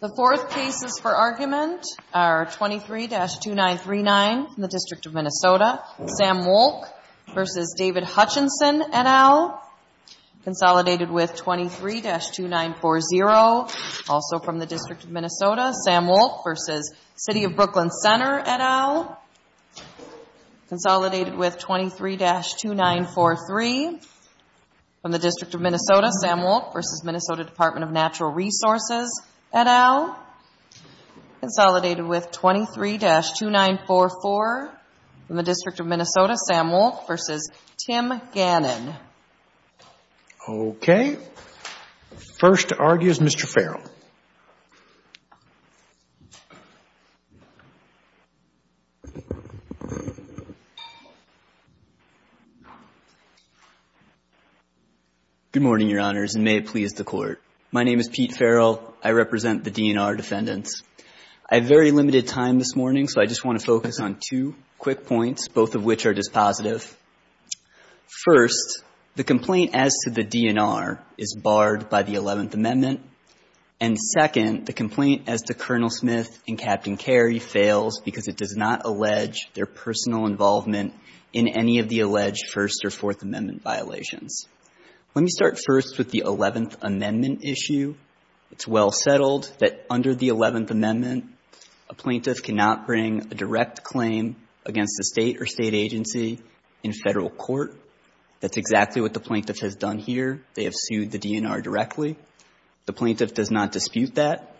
The fourth cases for argument are 23-2939 from the District of Minnesota, Sam Wolk v. David Hutchinson, et al., consolidated with 23-2940, also from the District of Minnesota, Sam Wolk v. City of Brooklyn Center, et al., consolidated with 23-2943, and 23-2949 from the District of Minnesota, Sam Wolk v. Minnesota Department of Natural Resources, et al., consolidated with 23-2944 from the District of Minnesota, Sam Wolk v. Tim Gannon. Okay. First to argue is Mr. Farrell. Good morning, Your Honors, and may it please the Court. My name is Pete Farrell. I represent the DNR defendants. I have very limited time this morning, so I just want to focus on two quick points, both of which are dispositive. First, the complaint as to the DNR is barred by the Eleventh Amendment, and second, the complaint as to Colonel Smith and Captain Carey fails because it does not allege their innocence. Let me start first with the Eleventh Amendment issue. It's well settled that under the Eleventh Amendment, a plaintiff cannot bring a direct claim against a state or state agency in federal court. That's exactly what the plaintiff has done here. They have sued the DNR directly. The plaintiff does not dispute that.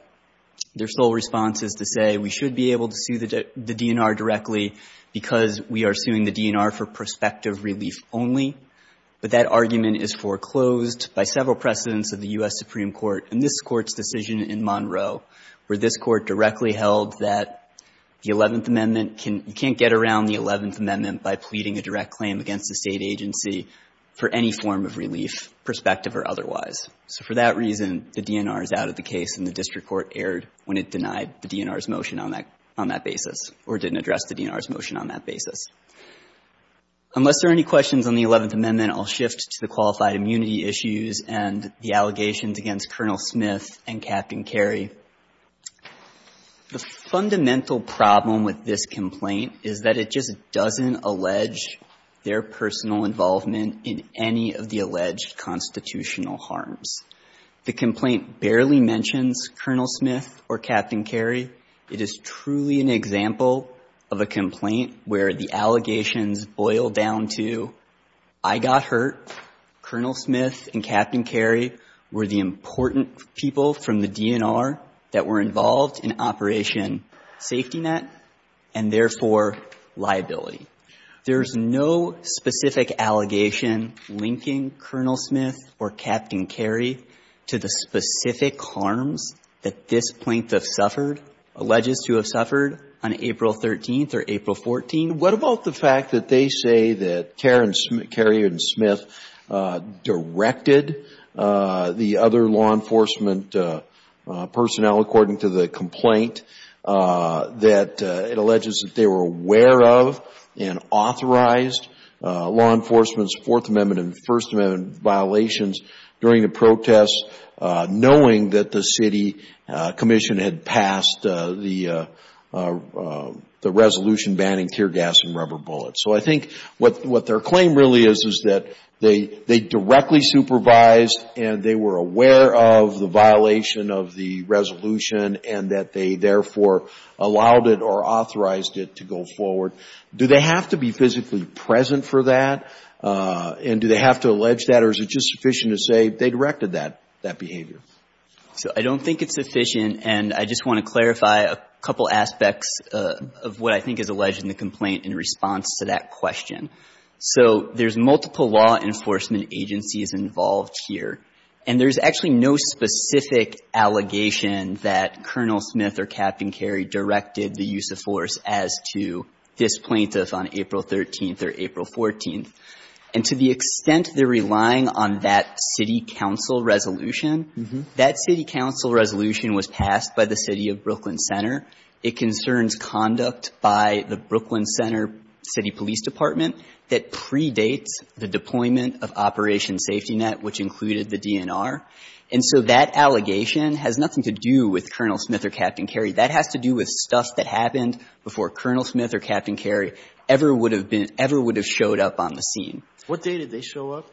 Their sole response is to say, we should be able to sue the DNR directly because we are suing the DNR for prospective relief only, but that argument is foreclosed by several precedents of the U.S. Supreme Court in this Court's decision in Monroe, where this Court directly held that the Eleventh Amendment can't get around the Eleventh Amendment by pleading a direct claim against a state agency for any form of relief, prospective or otherwise. So for that reason, the DNR is out of the case, and the district court erred when it denied the DNR's motion on that basis or didn't address the DNR's motion on that basis. Unless there are any questions on the Eleventh Amendment, I'll shift to the qualified immunity issues and the allegations against Colonel Smith and Captain Kerry. The fundamental problem with this complaint is that it just doesn't allege their personal involvement in any of the alleged constitutional harms. The complaint barely mentions Colonel Smith or Captain Kerry. It is truly an example of a complaint where the allegations boil down to, I got hurt, Colonel Smith and Captain Kerry were the important people from the DNR that were involved in Operation Safety Net, and therefore, liability. There's no specific allegation linking Colonel Smith or Captain Kerry to the specific harms that this plaintiff suffered, alleges to have suffered on April 13th or April 14th. What about the fact that they say that Kerry and Smith directed the other law enforcement personnel, according to the complaint, that it alleges that they were aware of and authorized law enforcement's Fourth Amendment and First Amendment violations during the protests, knowing that the city commission had passed the resolution banning tear gas and rubber bullets. So I think what their claim really is, is that they directly supervised and they were aware of the violation of the resolution and that they, therefore, allowed it or authorized it to go forward. Do they have to be physically present for that? And do they have to allege that or is it just sufficient to say they directed that behavior? So I don't think it's sufficient, and I just want to clarify a couple aspects of what I think is alleged in the complaint in response to that question. So there's multiple law enforcement agencies involved here, and there's actually no specific allegation that Colonel Smith or Captain Kerry directed the use of force as to this plaintiff on April 13th or April 14th. And to the extent they're relying on that city council resolution, that city council resolution was passed by the city of Brooklyn Center. It concerns conduct by the Brooklyn Center City Police Department that predates the deployment of Operation Safety Net, which included the DNR. And so that allegation has nothing to do with Colonel Smith or Captain Kerry. That has to do with stuff that happened before Colonel Smith or Captain Kerry ever would have been – ever would have showed up on the scene. What date did they show up?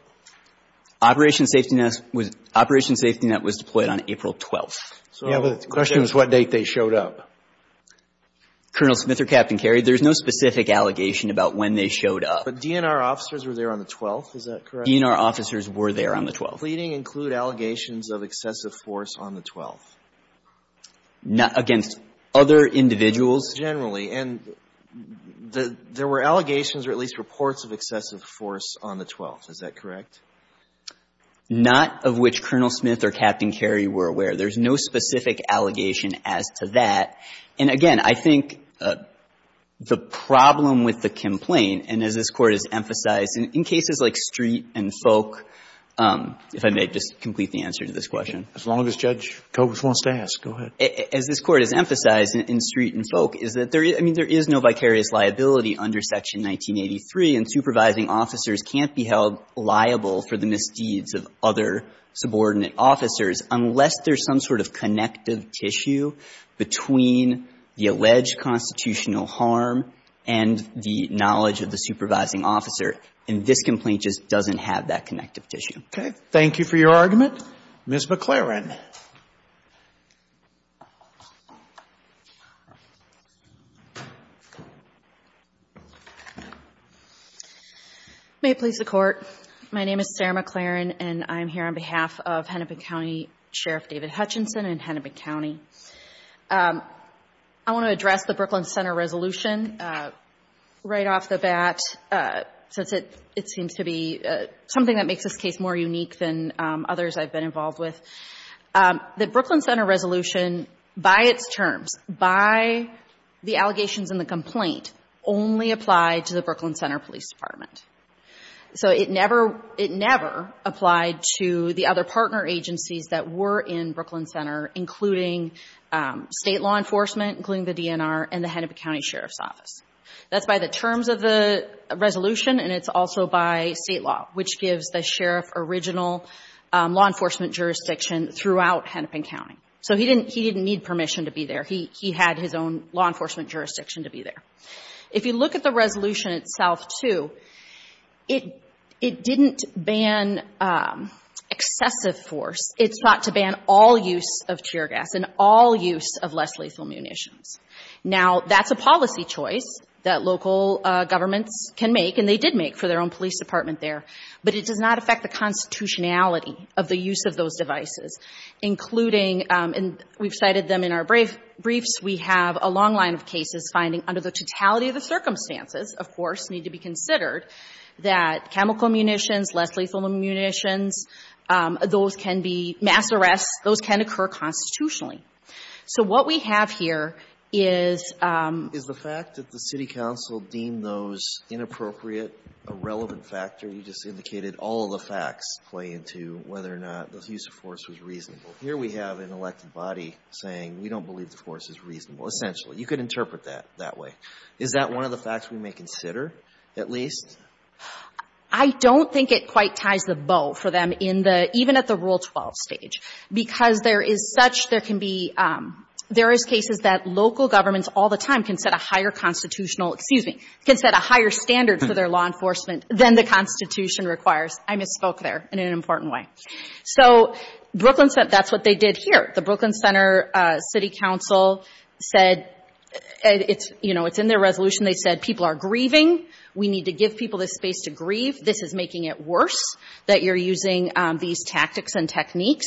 Operation Safety Net was – Operation Safety Net was deployed on April 12th. Yeah, but the question is what date they showed up. Colonel Smith or Captain Kerry, there's no specific allegation about when they showed up. But DNR officers were there on the 12th. Is that correct? DNR officers were there on the 12th. Pleading include allegations of excessive force on the 12th? Not against other individuals. Generally. And there were allegations or at least reports of excessive force on the 12th. Is that correct? Not of which Colonel Smith or Captain Kerry were aware. There's no specific allegation as to that. And again, I think the problem with the complaint, and as this Court has emphasized, in cases like Street and Folk, if I may just complete the answer to this question. As long as Judge Coates wants to ask, go ahead. As this Court has emphasized in Street and Folk, is that there is – I mean, there is no vicarious liability under Section 1983, and supervising officers can't be held liable for the misdeeds of other subordinate officers unless there's some sort of connective tissue between the alleged constitutional harm and the knowledge of the supervising officer. And this complaint just doesn't have that connective tissue. Okay. Thank you for your argument. Ms. McLaren. May it please the Court. My name is Sarah McLaren, and I'm here on behalf of Hennepin County Sheriff David Hutchinson in Hennepin County. I want to address the Brooklyn Center resolution right off the bat, since it seems to be something that makes this case more unique than others I've been involved with. The Brooklyn Center resolution, by its terms, by the allegations in the complaint, only applied to the Brooklyn Center Police Department. So it never – it never applied to the other partner agencies that were in Brooklyn Center, including state law enforcement, including the DNR, and the Hennepin County Sheriff's Office. That's by the terms of the resolution, and it's also by state law, which gives the sheriff original law enforcement jurisdiction throughout Hennepin County. So he didn't need permission to be there. He had his own law enforcement jurisdiction to be there. If you look at the resolution itself, too, it didn't ban excessive force. It sought to ban all use of tear gas and all use of less lethal munitions. Now, that's a policy choice that local governments can make, and they did make for their own police department there. But it does not affect the constitutionality of the use of those devices, including – and we've cited them in our briefs. We have a long line of cases finding, under the totality of the circumstances, of course, need to be considered, that chemical munitions, less lethal munitions, those can be – mass arrests, those can occur constitutionally. So what we have here is – Alito, did the fact that the city council deemed those inappropriate, a relevant factor? You just indicated all the facts play into whether or not the use of force was reasonable. Here we have an elected body saying we don't believe the force is reasonable, essentially. You could interpret that that way. Is that one of the facts we may consider, at least? I don't think it quite ties the bow for them in the – even at the Rule 12 stage, because there is such – there can be – there is cases that local governments all the time can set a higher constitutional – excuse me – can set a higher standard for their law enforcement than the constitution requires. I misspoke there in an important way. So Brooklyn – that's what they did here. The Brooklyn Center City Council said – it's – you know, it's in their resolution. They said people are grieving. We need to give people the space to grieve. This is making it worse that you're using these tactics and techniques.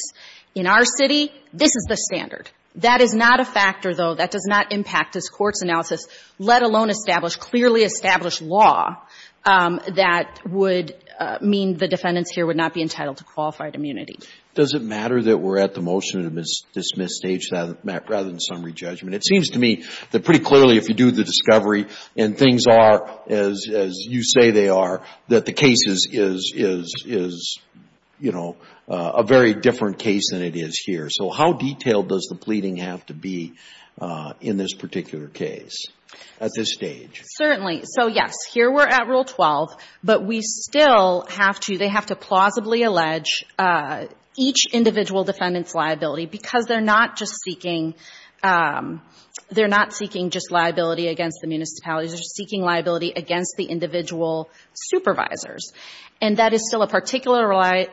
In our city, this is the standard. That is not a factor, though, that does not impact this court's analysis, let alone establish clearly established law that would mean the defendants here would not be entitled to qualified immunity. Does it matter that we're at the motion to dismiss stage rather than summary judgment? It seems to me that pretty clearly if you do the discovery and things are as you say they are, that the case is, you know, a very different case than it would be in this particular case at this stage. Certainly. So, yes, here we're at Rule 12, but we still have to – they have to plausibly allege each individual defendant's liability because they're not just seeking – they're not seeking just liability against the municipalities. They're seeking liability against the individual supervisors. And that is still a particularized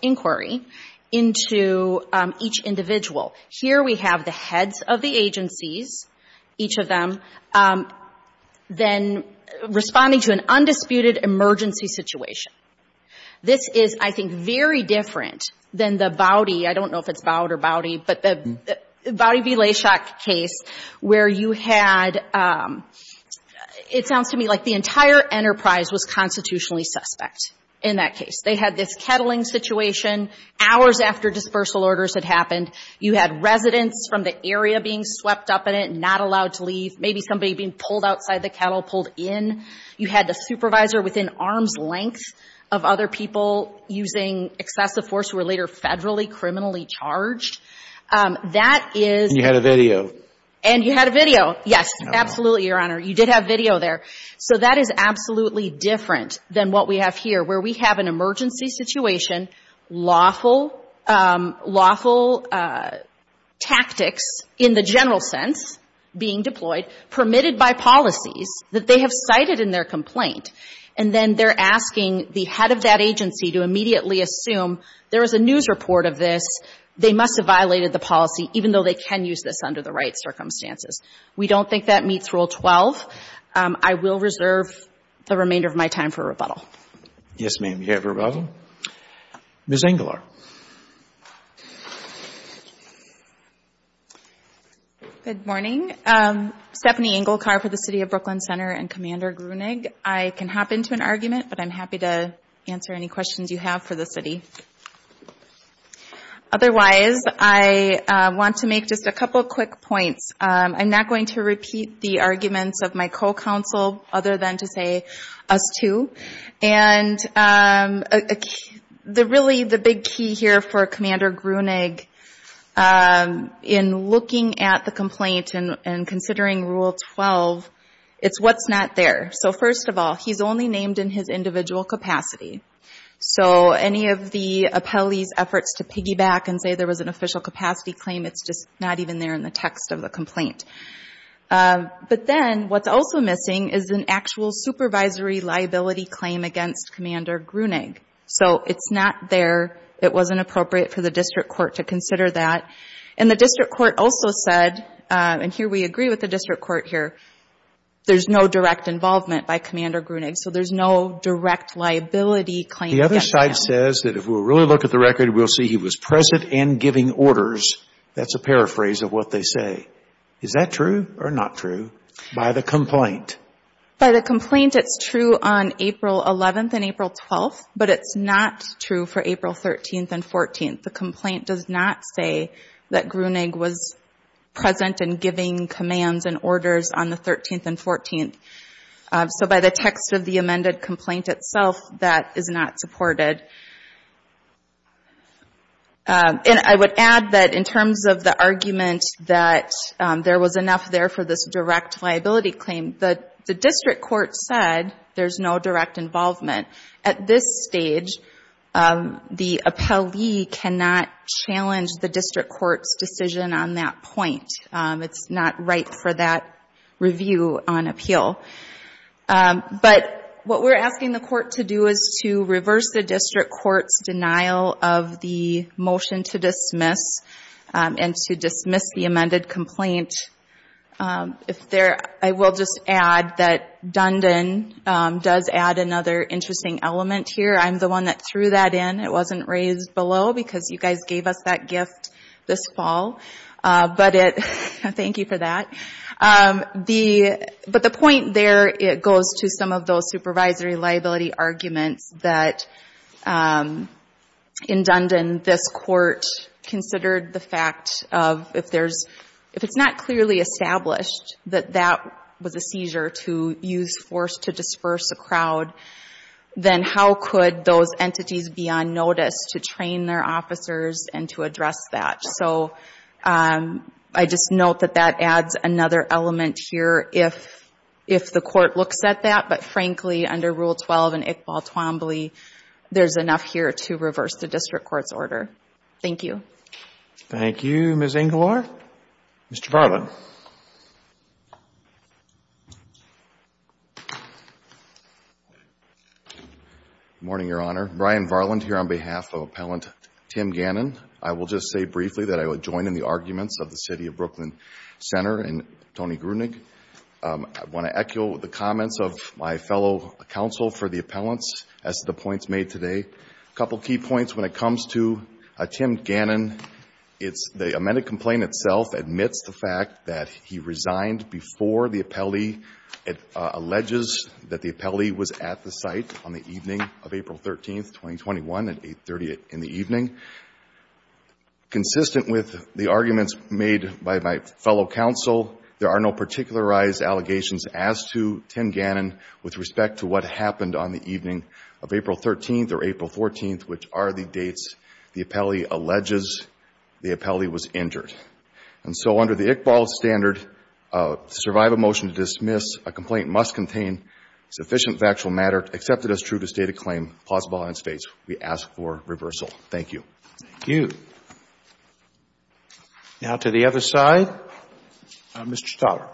inquiry into each individual. Here we have the heads of the agencies, each of them, then responding to an undisputed emergency situation. This is, I think, very different than the Boudy – I don't know if it's Boud or Boudy – but the Boudy v. Lashok case where you had – it sounds to me like the in that case. They had this kettling situation hours after dispersal orders had happened. You had residents from the area being swept up in it, not allowed to leave, maybe somebody being pulled outside the kettle, pulled in. You had the supervisor within arm's length of other people using excessive force who were later federally criminally charged. That is – And you had a video. And you had a video. Yes, absolutely, Your Honor. You did have video there. So that is absolutely different than what we have here where we have an emergency situation, lawful tactics in the general sense being deployed, permitted by policies that they have cited in their complaint. And then they're asking the head of that agency to immediately assume there is a news report of this. They must have violated the policy even though they can use this under the right remainder of my time for rebuttal. Yes, ma'am, you have rebuttal. Ms. Engelar. Good morning. Stephanie Engelkar for the City of Brooklyn Center and Commander Gruenig. I can hop into an argument, but I'm happy to answer any questions you have for the city. Otherwise, I want to make just a couple quick points. I'm not going to repeat the arguments of my co-counsel other than to say us too. And really the big key here for Commander Gruenig in looking at the complaint and considering Rule 12, it's what's not there. So first of all, he's only named in his individual capacity. So any of the appellee's efforts to piggyback and say there was an official capacity claim, it's just not even there in the text of the complaint. But then what's also missing is an actual supervisory liability claim against Commander Gruenig. So it's not there. It wasn't appropriate for the district court to consider that. And the district court also said, and here we agree with the district court here, there's no direct involvement by Commander Gruenig. So there's no direct liability claim. The other side says that if we really look at the record, we'll see he was present and giving orders. That's a paraphrase of what they say. Is that true or not true by the complaint? By the complaint, it's true on April 11th and April 12th, but it's not true for April 13th and 14th. The complaint does not say that Gruenig was present and giving commands and orders on the 13th and 14th. So by the text of the And I would add that in terms of the argument that there was enough there for this direct liability claim, the district court said there's no direct involvement. At this stage, the appellee cannot challenge the district court's decision on that point. It's not right for that review on appeal. But what we're to dismiss and to dismiss the amended complaint. I will just add that Dundon does add another interesting element here. I'm the one that threw that in. It wasn't raised below because you guys gave us that gift this fall. Thank you for that. But the point there, it goes to some of those supervisory liability arguments that in Dundon, this court considered the fact of if it's not clearly established that that was a seizure to use force to disperse a crowd, then how could those entities be on notice to train their officers and to address that? So I just note that that adds another element here if the court looks at that. But frankly, under Rule 12 and Iqbal Twombly, there's enough here to reverse the district court's order. Thank you. Thank you, Ms. Engelar. Mr. Varland. Morning, Your Honor. Brian Varland here on behalf of Appellant Tim Gannon. I will just say briefly that I would join in the arguments of the City of Brooklyn Center and Tony Grunig. I want to echo the comments of my fellow counsel for the appellants as to the points made today. A couple of key points when it comes to Tim Gannon, it's the amended complaint itself admits the fact that he resigned before the appellee. It alleges that the appellee was at the site on the evening of April 13th, 2021 at 8.30 in the evening. Consistent with the argument by my fellow counsel, there are no particularized allegations as to Tim Gannon with respect to what happened on the evening of April 13th or April 14th, which are the dates the appellee alleges the appellee was injured. And so under the Iqbal standard, to survive a motion to dismiss, a complaint must contain sufficient factual matter accepted as true to state a claim plausible on its dates. We ask for reversal. Thank you. Thank you. Now to the other side, Mr. Stauber.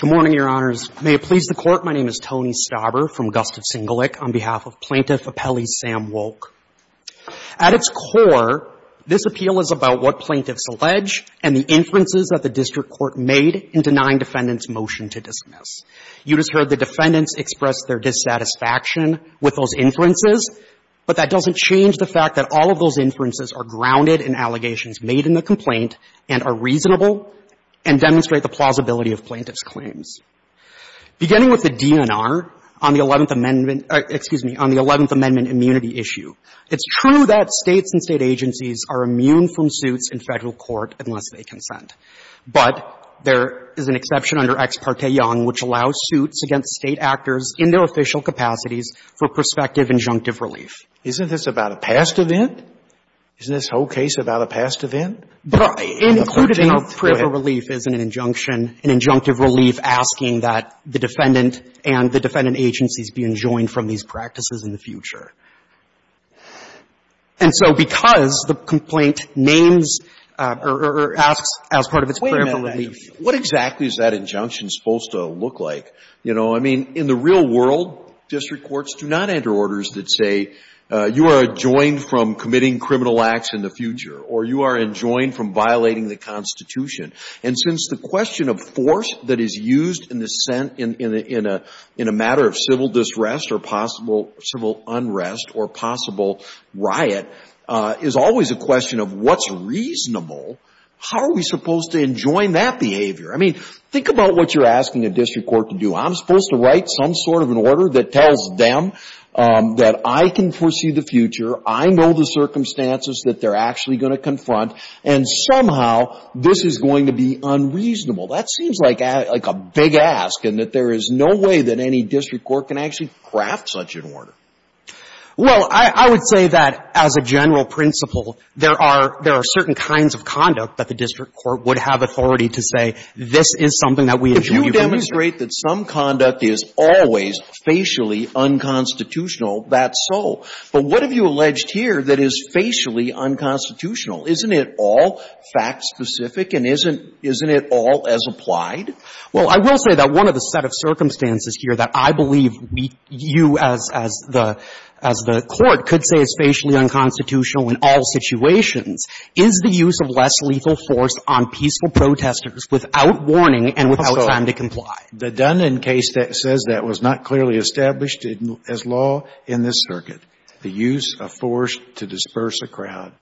Good morning, Your Honors. May it please the Court, my name is Tony Stauber from Gustav Singelic on behalf of Plaintiff Appellee Sam Wolk. At its core, this appeal is about what plaintiffs allege and the inferences that the district court made in denying the defendant's motion to dismiss. You just heard the defendants express their dissatisfaction with those inferences, but that doesn't change the fact that all of those inferences are grounded in allegations made in the complaint and are reasonable and demonstrate the plausibility of plaintiff's claims. Beginning with the DNR on the 11th Amendment — excuse me — on the 11th Amendment immunity issue, it's true that States and State agencies are immune from suits in Federal court unless they consent. But there is an exception under Ex parte Young, which allows suits against State actors in their official capacities for prospective injunctive relief. Isn't this about a past event? Isn't this whole case about a past event? Included in our preamble relief is an injunction, an injunctive relief asking that the defendant and the defendant agencies be enjoined from these practices in the future. And so because the complaint names or asks as part of its preamble relief — Scalia, what exactly is that injunction supposed to look like? You know, I mean, in the real world, district courts do not enter orders that say you are enjoined from committing criminal acts in the future or you are enjoined from violating the Constitution. And since the question of force that is used in a matter of civil disrest or possible unrest or possible riot is always a question of what's reasonable, how are we supposed to enjoin that behavior? I mean, think about what you're asking a district court to do. I'm supposed to write some sort of an order that tells them that I can foresee the future, I know the circumstances that they're actually going to confront, and somehow this is going to be unreasonable. That seems like a big ask and that there is no way that any district court can actually craft such an order. Well, I would say that, as a general principle, there are certain kinds of conduct that the district court would have authority to say this is something that we enjoin from the future. If you demonstrate that some conduct is always facially unconstitutional, that's so. But what have you alleged here that is facially unconstitutional? Isn't it all fact-specific and isn't it all as applied? Well, I will say that one of the set of circumstances here that I believe you as the court could say is facially unconstitutional in all situations is the use of less lethal force on peaceful protesters without warning and without time to comply. So the Dundon case that says that was not clearly established as law in this circuit, the use of force to disperse a crowd,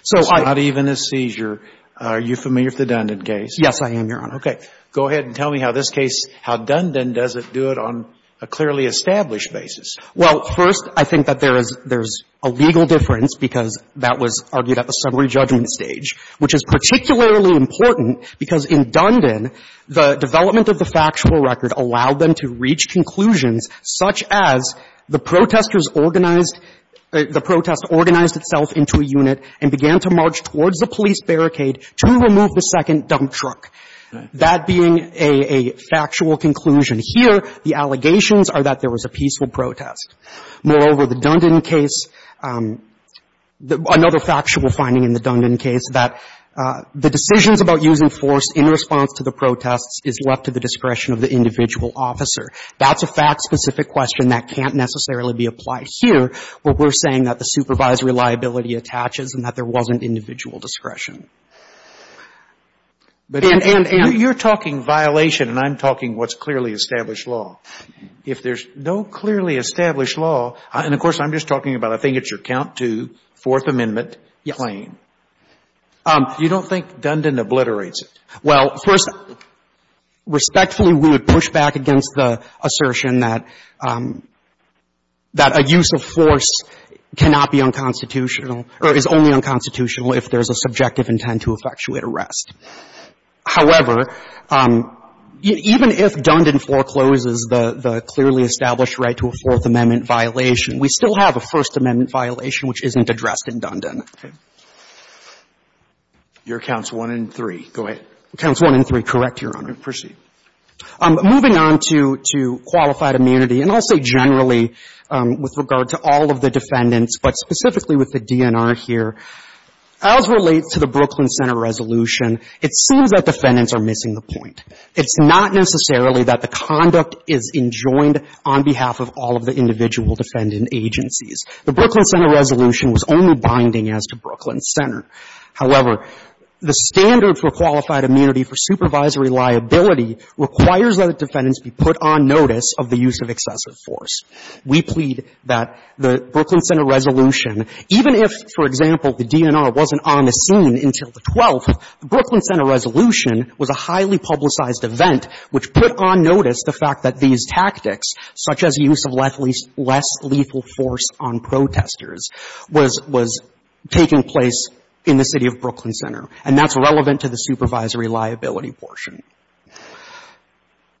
it's not even a seizure. Are you familiar with the Dundon case? Yes, I am, Your Honor. Okay. Go ahead and tell me how this case, how Dundon does it do it on a clearly established basis. Well, first, I think that there is a legal difference because that was argued at the summary judgment stage, which is particularly important because in Dundon, the development of the factual record allowed them to reach conclusions such as the protesters organized the protest, organized itself into a unit and began to march towards the police barricade to remove the second dump truck. That being a factual conclusion here, the allegations are that there was a peaceful protest. Moreover, the Dundon case, another factual finding in the Dundon case that the decisions about using force in response to the protests is left to the discretion of the individual officer. That's a fact-specific question that can't necessarily be applied here, where we're saying that the supervisory liability attaches and that there wasn't individual discretion. And, and, and? You're talking violation and I'm talking what's clearly established law. If there's no clearly established law, and of course, I'm just talking about I think it's your count two, Fourth Amendment claim. Yes. You don't think Dundon obliterates it? Well, first, respectfully, we would push back against the assertion that a use of force cannot be unconstitutional or is only unconstitutional if there's a subjective intent to effectuate arrest. However, even if Dundon forecloses the, the clearly established right to a Fourth Amendment violation, we still have a First Amendment violation which isn't addressed in Dundon. Okay. Your counts one and three. Go ahead. Counts one and three, correct, Your Honor. Proceed. Moving on to, to qualified immunity, and I'll say generally with regard to all of the Brooklyn Center Resolution, it seems that defendants are missing the point. It's not necessarily that the conduct is enjoined on behalf of all of the individual defendant agencies. The Brooklyn Center Resolution was only binding as to Brooklyn Center. However, the standard for qualified immunity for supervisory liability requires that the defendants be put on notice of the use of excessive force. We plead that the Brooklyn Center Resolution, even if, for example, the DNR wasn't on the scene until the 12th, the Brooklyn Center Resolution was a highly publicized event which put on notice the fact that these tactics, such as use of less lethal force on protesters, was, was taking place in the city of Brooklyn Center, and that's relevant to the supervisory liability portion.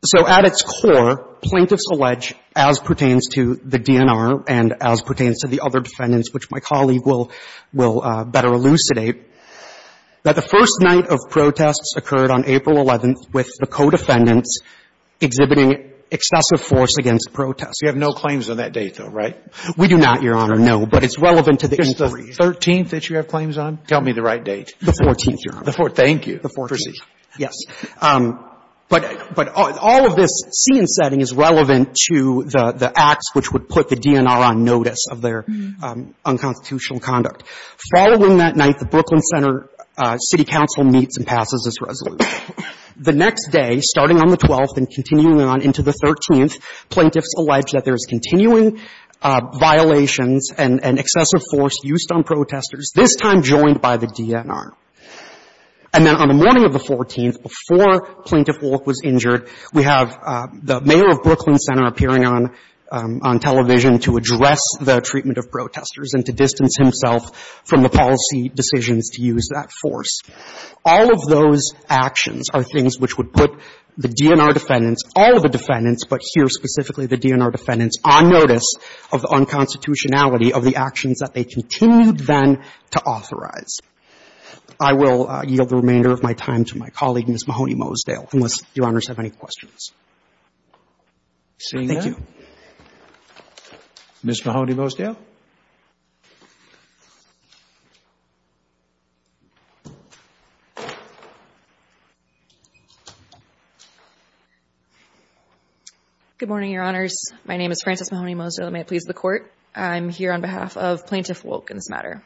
So at its core, plaintiffs allege, as pertains to the DNR and as pertains to the other that the first night of protests occurred on April 11th with the co-defendants exhibiting excessive force against protesters. You have no claims on that date, though, right? We do not, Your Honor, no. But it's relevant to the inquiry. Is the 13th that you have claims on? Tell me the right date. The 14th, Your Honor. The 14th. Thank you. The 14th. Proceed. Yes. But, but all of this scene setting is relevant to the, the acts which would put the DNR on notice of their unconstitutional conduct. Following that night, the Brooklyn Center City Council meets and passes this resolution. The next day, starting on the 12th and continuing on into the 13th, plaintiffs allege that there is continuing violations and, and excessive force used on protesters, this time joined by the DNR. And then on the morning of the 14th, before Plaintiff Wolk was injured, we have the mayor of Brooklyn Center appearing on, on television to address the treatment of protesters and to distance himself from the policy decisions to use that force. All of those actions are things which would put the DNR defendants, all of the defendants, but here specifically the DNR defendants, on notice of the unconstitutionality of the actions that they continued then to authorize. I will yield the remainder of my time to my colleague, Ms. Mahoney-Mosedale, unless Your Honors have any questions. Thank you. Ms. Mahoney-Mosedale? Good morning, Your Honors. My name is Frances Mahoney-Mosedale, and may it please the Court. I'm here on behalf of Plaintiff Wolk in this matter.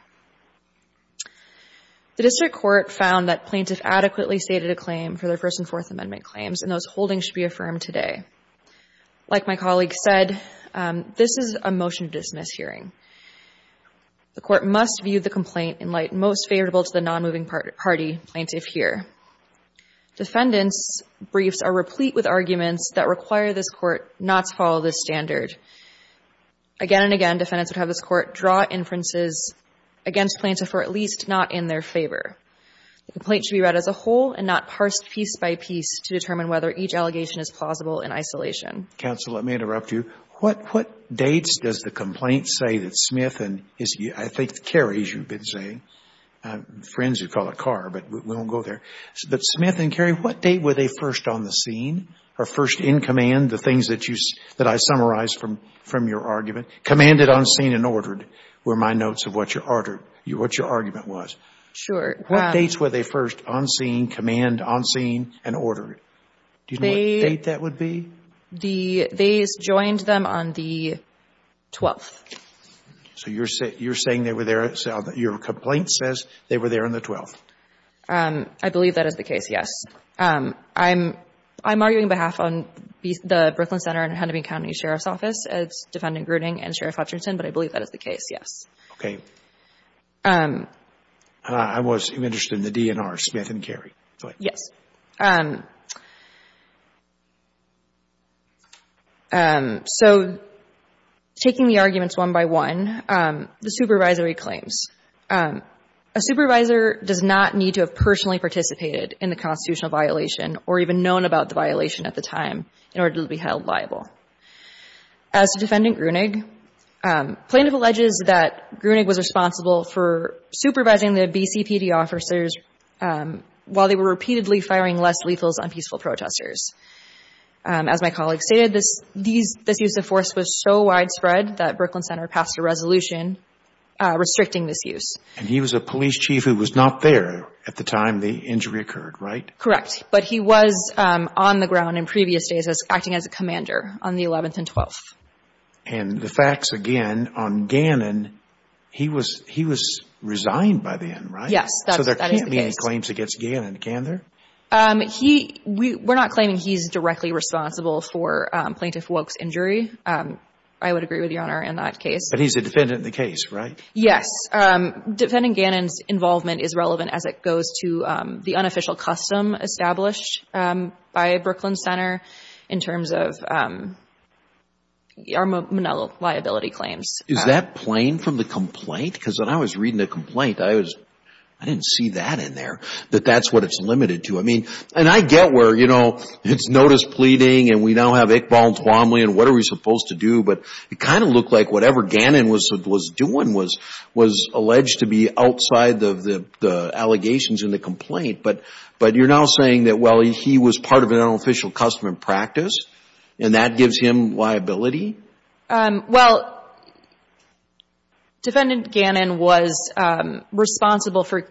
The District Court found that plaintiffs adequately stated a claim for their First and Fourth Amendment claims, and those holdings should be affirmed today. Like my colleague said, this is a motion to dismiss hearing. The Court must view the complaint in light most favorable to the non-moving party plaintiff here. Defendants' briefs are replete with arguments that require this Court not to follow this standard. Again and again, defendants would have this Court draw inferences against plaintiffs or at least not in their favor. The complaint should be read as a whole and not parsed piece by piece to determine whether each allegation is plausible in isolation. Counsel, let me interrupt you. What dates does the complaint say that Smith and his — I think Kerry, as you've been saying, friends who call it Carr, but we won't go there. But Smith and Kerry, what date were they first on the scene or first in command, the things that I summarized from your argument? Commanded, on scene, and ordered were my notes of what your argument was. Sure. What dates were they first on scene, command, on scene, and ordered? Do you know what date that would be? They joined them on the 12th. So you're saying they were there — your complaint says they were there on the 12th. I believe that is the case, yes. I'm arguing behalf on the Brooklyn Center and Hennepin County Sheriff's Office as Defendant Gruening and Sheriff Hutchinson, but I believe that is the case, yes. Okay. I was interested in the DNR, Smith and Kerry. Yes. So taking the arguments one by one, the supervisory claims. A supervisor does not need to have personally participated in the constitutional violation or even known about the violation at the time in order to be held liable. As to Defendant Gruening, plaintiff alleges that Gruening was responsible for supervising the BCPD officers while they were repeatedly firing less lethals on peaceful protesters. As my colleague stated, this use of force was so widespread that Brooklyn Center passed a resolution restricting this use. And he was a police chief who was not there at the time the injury occurred, right? Correct. But he was on the ground in previous days as acting as a commander on the 11th and 12th. And the facts, again, on Gannon, he was resigned by then, right? Yes, that is the case. So there can't be any claims against Gannon, can there? We're not claiming he's directly responsible for Plaintiff Woke's injury. I would agree with Your Honor in that case. But he's a defendant in the case, right? Yes. Defending Gannon's involvement is relevant as it goes to the unofficial custom established by Brooklyn Center in terms of our liability claims. Is that plain from the complaint? Because when I was reading the complaint, I didn't see that in there, that that's what it's limited to. I mean, and I get where, you know, it's notice pleading, and we now have Iqbal and Tuomly, and what are we supposed to do? But it kind of looked like whatever Gannon was doing was alleged to be outside of the allegations in the complaint. But you're now saying that, well, he was part of an unofficial custom in practice, and that gives him liability? Well, Defendant Gannon was responsible for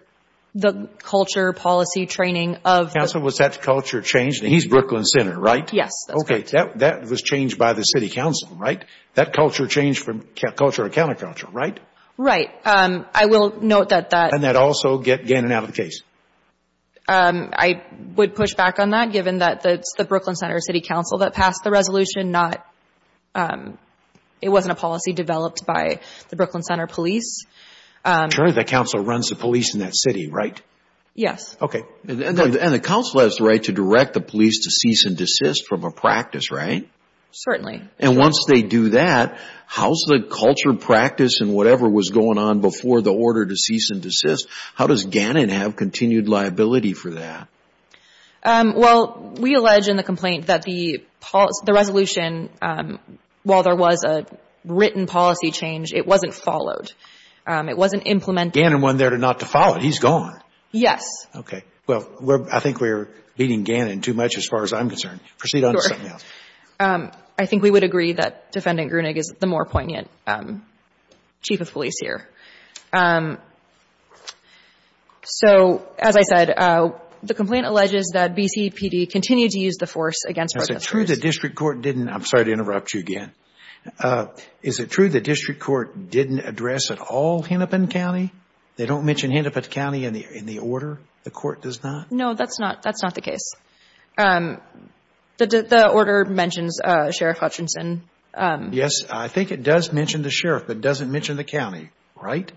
the culture, policy, training of Counsel, was that culture changed? He's Brooklyn Center, right? Yes, that's correct. That was changed by the City Council, right? That culture changed from culture to counterculture, right? Right. I will note that that And that also get Gannon out of the case? I would push back on that, given that it's the Brooklyn Center City Council that passed the resolution, not, it wasn't a policy developed by the Brooklyn Center Police. Sure, the Council runs the police in that city, right? Yes. Okay. And the Council has the right to direct the police to cease and desist from a practice, right? Certainly. And once they do that, how's the culture, practice, and whatever was going on before the order to cease and desist, how does Gannon have continued liability for that? Well, we allege in the complaint that the resolution, while there was a written policy change, it wasn't followed. It wasn't implemented. Gannon wasn't there not to follow it, he's gone. Yes. Okay. Well, I think we're beating Gannon too much as far as I'm concerned. Proceed on to something else. Sure. I think we would agree that Defendant Grunig is the more poignant Chief of Police here. So, as I said, the complaint alleges that BCPD continued to use the force against our districts. Is it true the district court didn't, I'm sorry to interrupt you again, is it true the district court didn't address at all Hennepin County? They don't mention Hennepin County in the order? The court does not? No, that's not the case. The order mentions Sheriff Hutchinson. Yes. I think it does mention the sheriff, but it doesn't mention the county, right?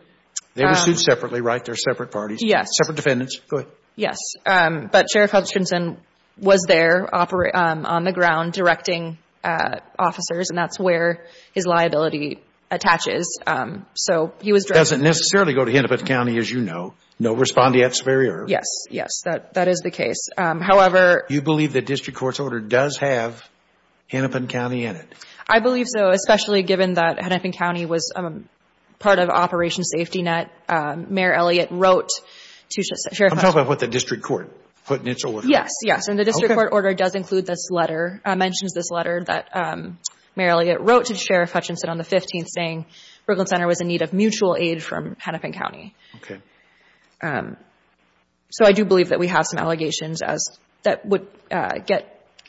They were sued separately, right? They're separate parties. Yes. Separate defendants. Go ahead. Yes. But Sheriff Hutchinson was there on the ground directing officers, and that's where his liability attaches. Doesn't necessarily go to Hennepin County, as you know. No respondeat superior. Yes, yes, that is the case. However. You believe the district court's order does have Hennepin County in it? I believe so, especially given that Hennepin County was part of Operation Safety Net. Mayor Elliott wrote to Sheriff Hutchinson. I'm talking about what the district court put in its order. Yes, yes. And the district court order does include this letter, mentions this letter that Mayor Elliott wrote to Sheriff Hutchinson on the 15th saying Brooklyn Center was in need of mutual aid from Hennepin County. Okay. So I do believe that we have some allegations that would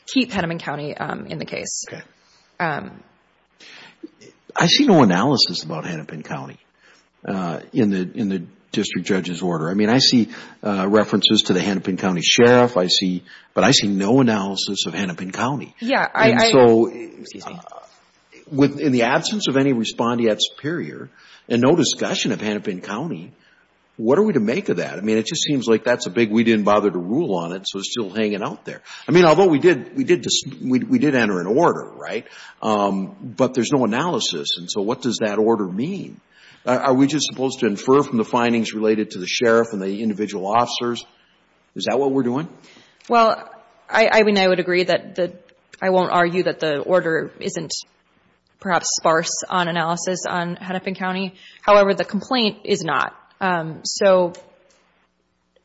keep Hennepin County in the case. Okay. I see no analysis about Hennepin County in the district judge's order. I mean, I see references to the Hennepin County sheriff, but I see no analysis of Hennepin County. Yes. So in the absence of any respondeat superior and no discussion of Hennepin County, what are we to make of that? I mean, it just seems like that's a big we didn't bother to rule on it, so it's still hanging out there. I mean, although we did enter an order, right, but there's no analysis. And so what does that order mean? Are we just supposed to infer from the findings related to the sheriff and the individual officers? Is that what we're doing? Well, I mean, I would agree that I won't argue that the order isn't perhaps sparse on analysis on Hennepin County. However, the complaint is not. So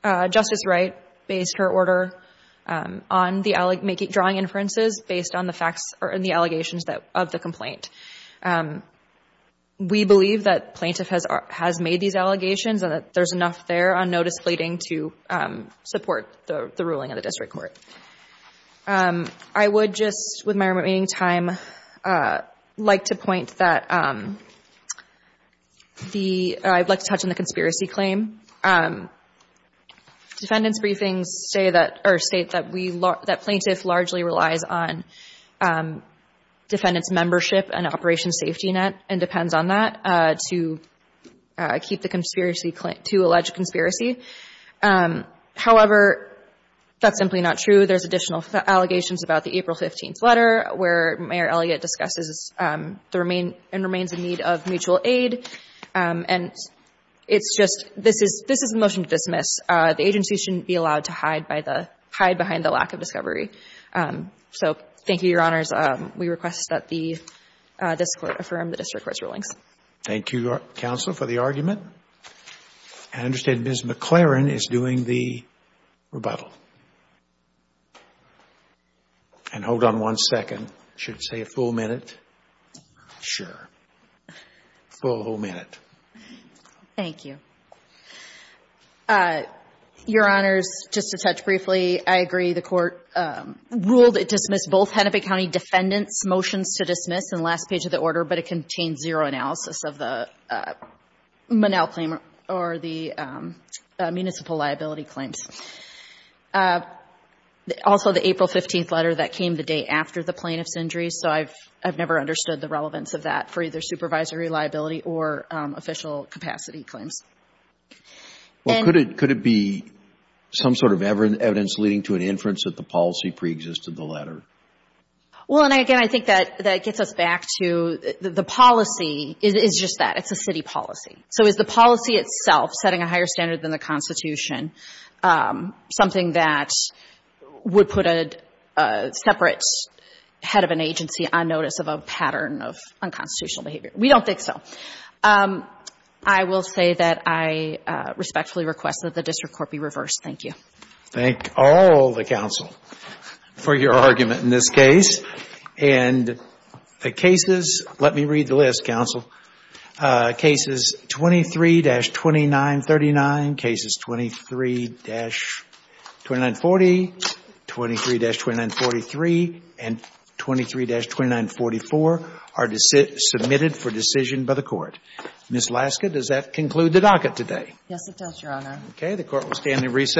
Justice Wright based her order on the drawing inferences based on the facts or in the allegations of the complaint. We believe that plaintiff has made these allegations and that there's enough there on notice pleading to support the ruling of the district court. I would just, with my remaining time, like to point that I'd like to touch on the conspiracy claim. Defendants' briefings state that plaintiff largely relies on defendants' membership and operation safety net and depends on that to keep the conspiracy claim, to allege conspiracy. However, that's simply not true. There's additional allegations about the April 15th letter where Mayor Elliott discusses the remain and remains in need of mutual aid. And it's just, this is, this is a motion to dismiss. The agency shouldn't be allowed to hide by the, hide behind the lack of discovery. So thank you, Your Honors. We request that the district court affirm the district court's rulings. Thank you, counsel, for the argument. I understand Ms. McLaren is doing the rebuttal. And hold on one second. Should say a full minute. Sure. Full, whole minute. Thank you. Your Honors, just to touch briefly, I agree the court ruled it dismissed both Hennepin County defendants' motions to dismiss in the last page of the order, but it contains zero analysis of the Monell claim or the municipal liability claims. Also, the April 15th letter, that came the day after the plaintiff's injury, so I've never understood the relevance of that for either supervisory liability or official capacity claims. Well, could it, could it be some sort of evidence leading to an inference that the policy preexisted the letter? Well, and again, I think that gets us back to the policy is just that. It's a city policy. So is the policy itself, setting a higher standard than the Constitution, something that would put a separate head of an agency on notice of a pattern of unconstitutional behavior? We don't think so. I will say that I respectfully request that the district court be reversed. Thank you. Thank all the counsel for your argument in this case. And the cases, let me read the list, counsel. Cases 23-2939, cases 23-2940, 23-2943, and 23-2944 are submitted for decision by the court. Ms. Laska, does that conclude the docket today? Yes, it does, Your Honor. Okay. The court will stand and recess.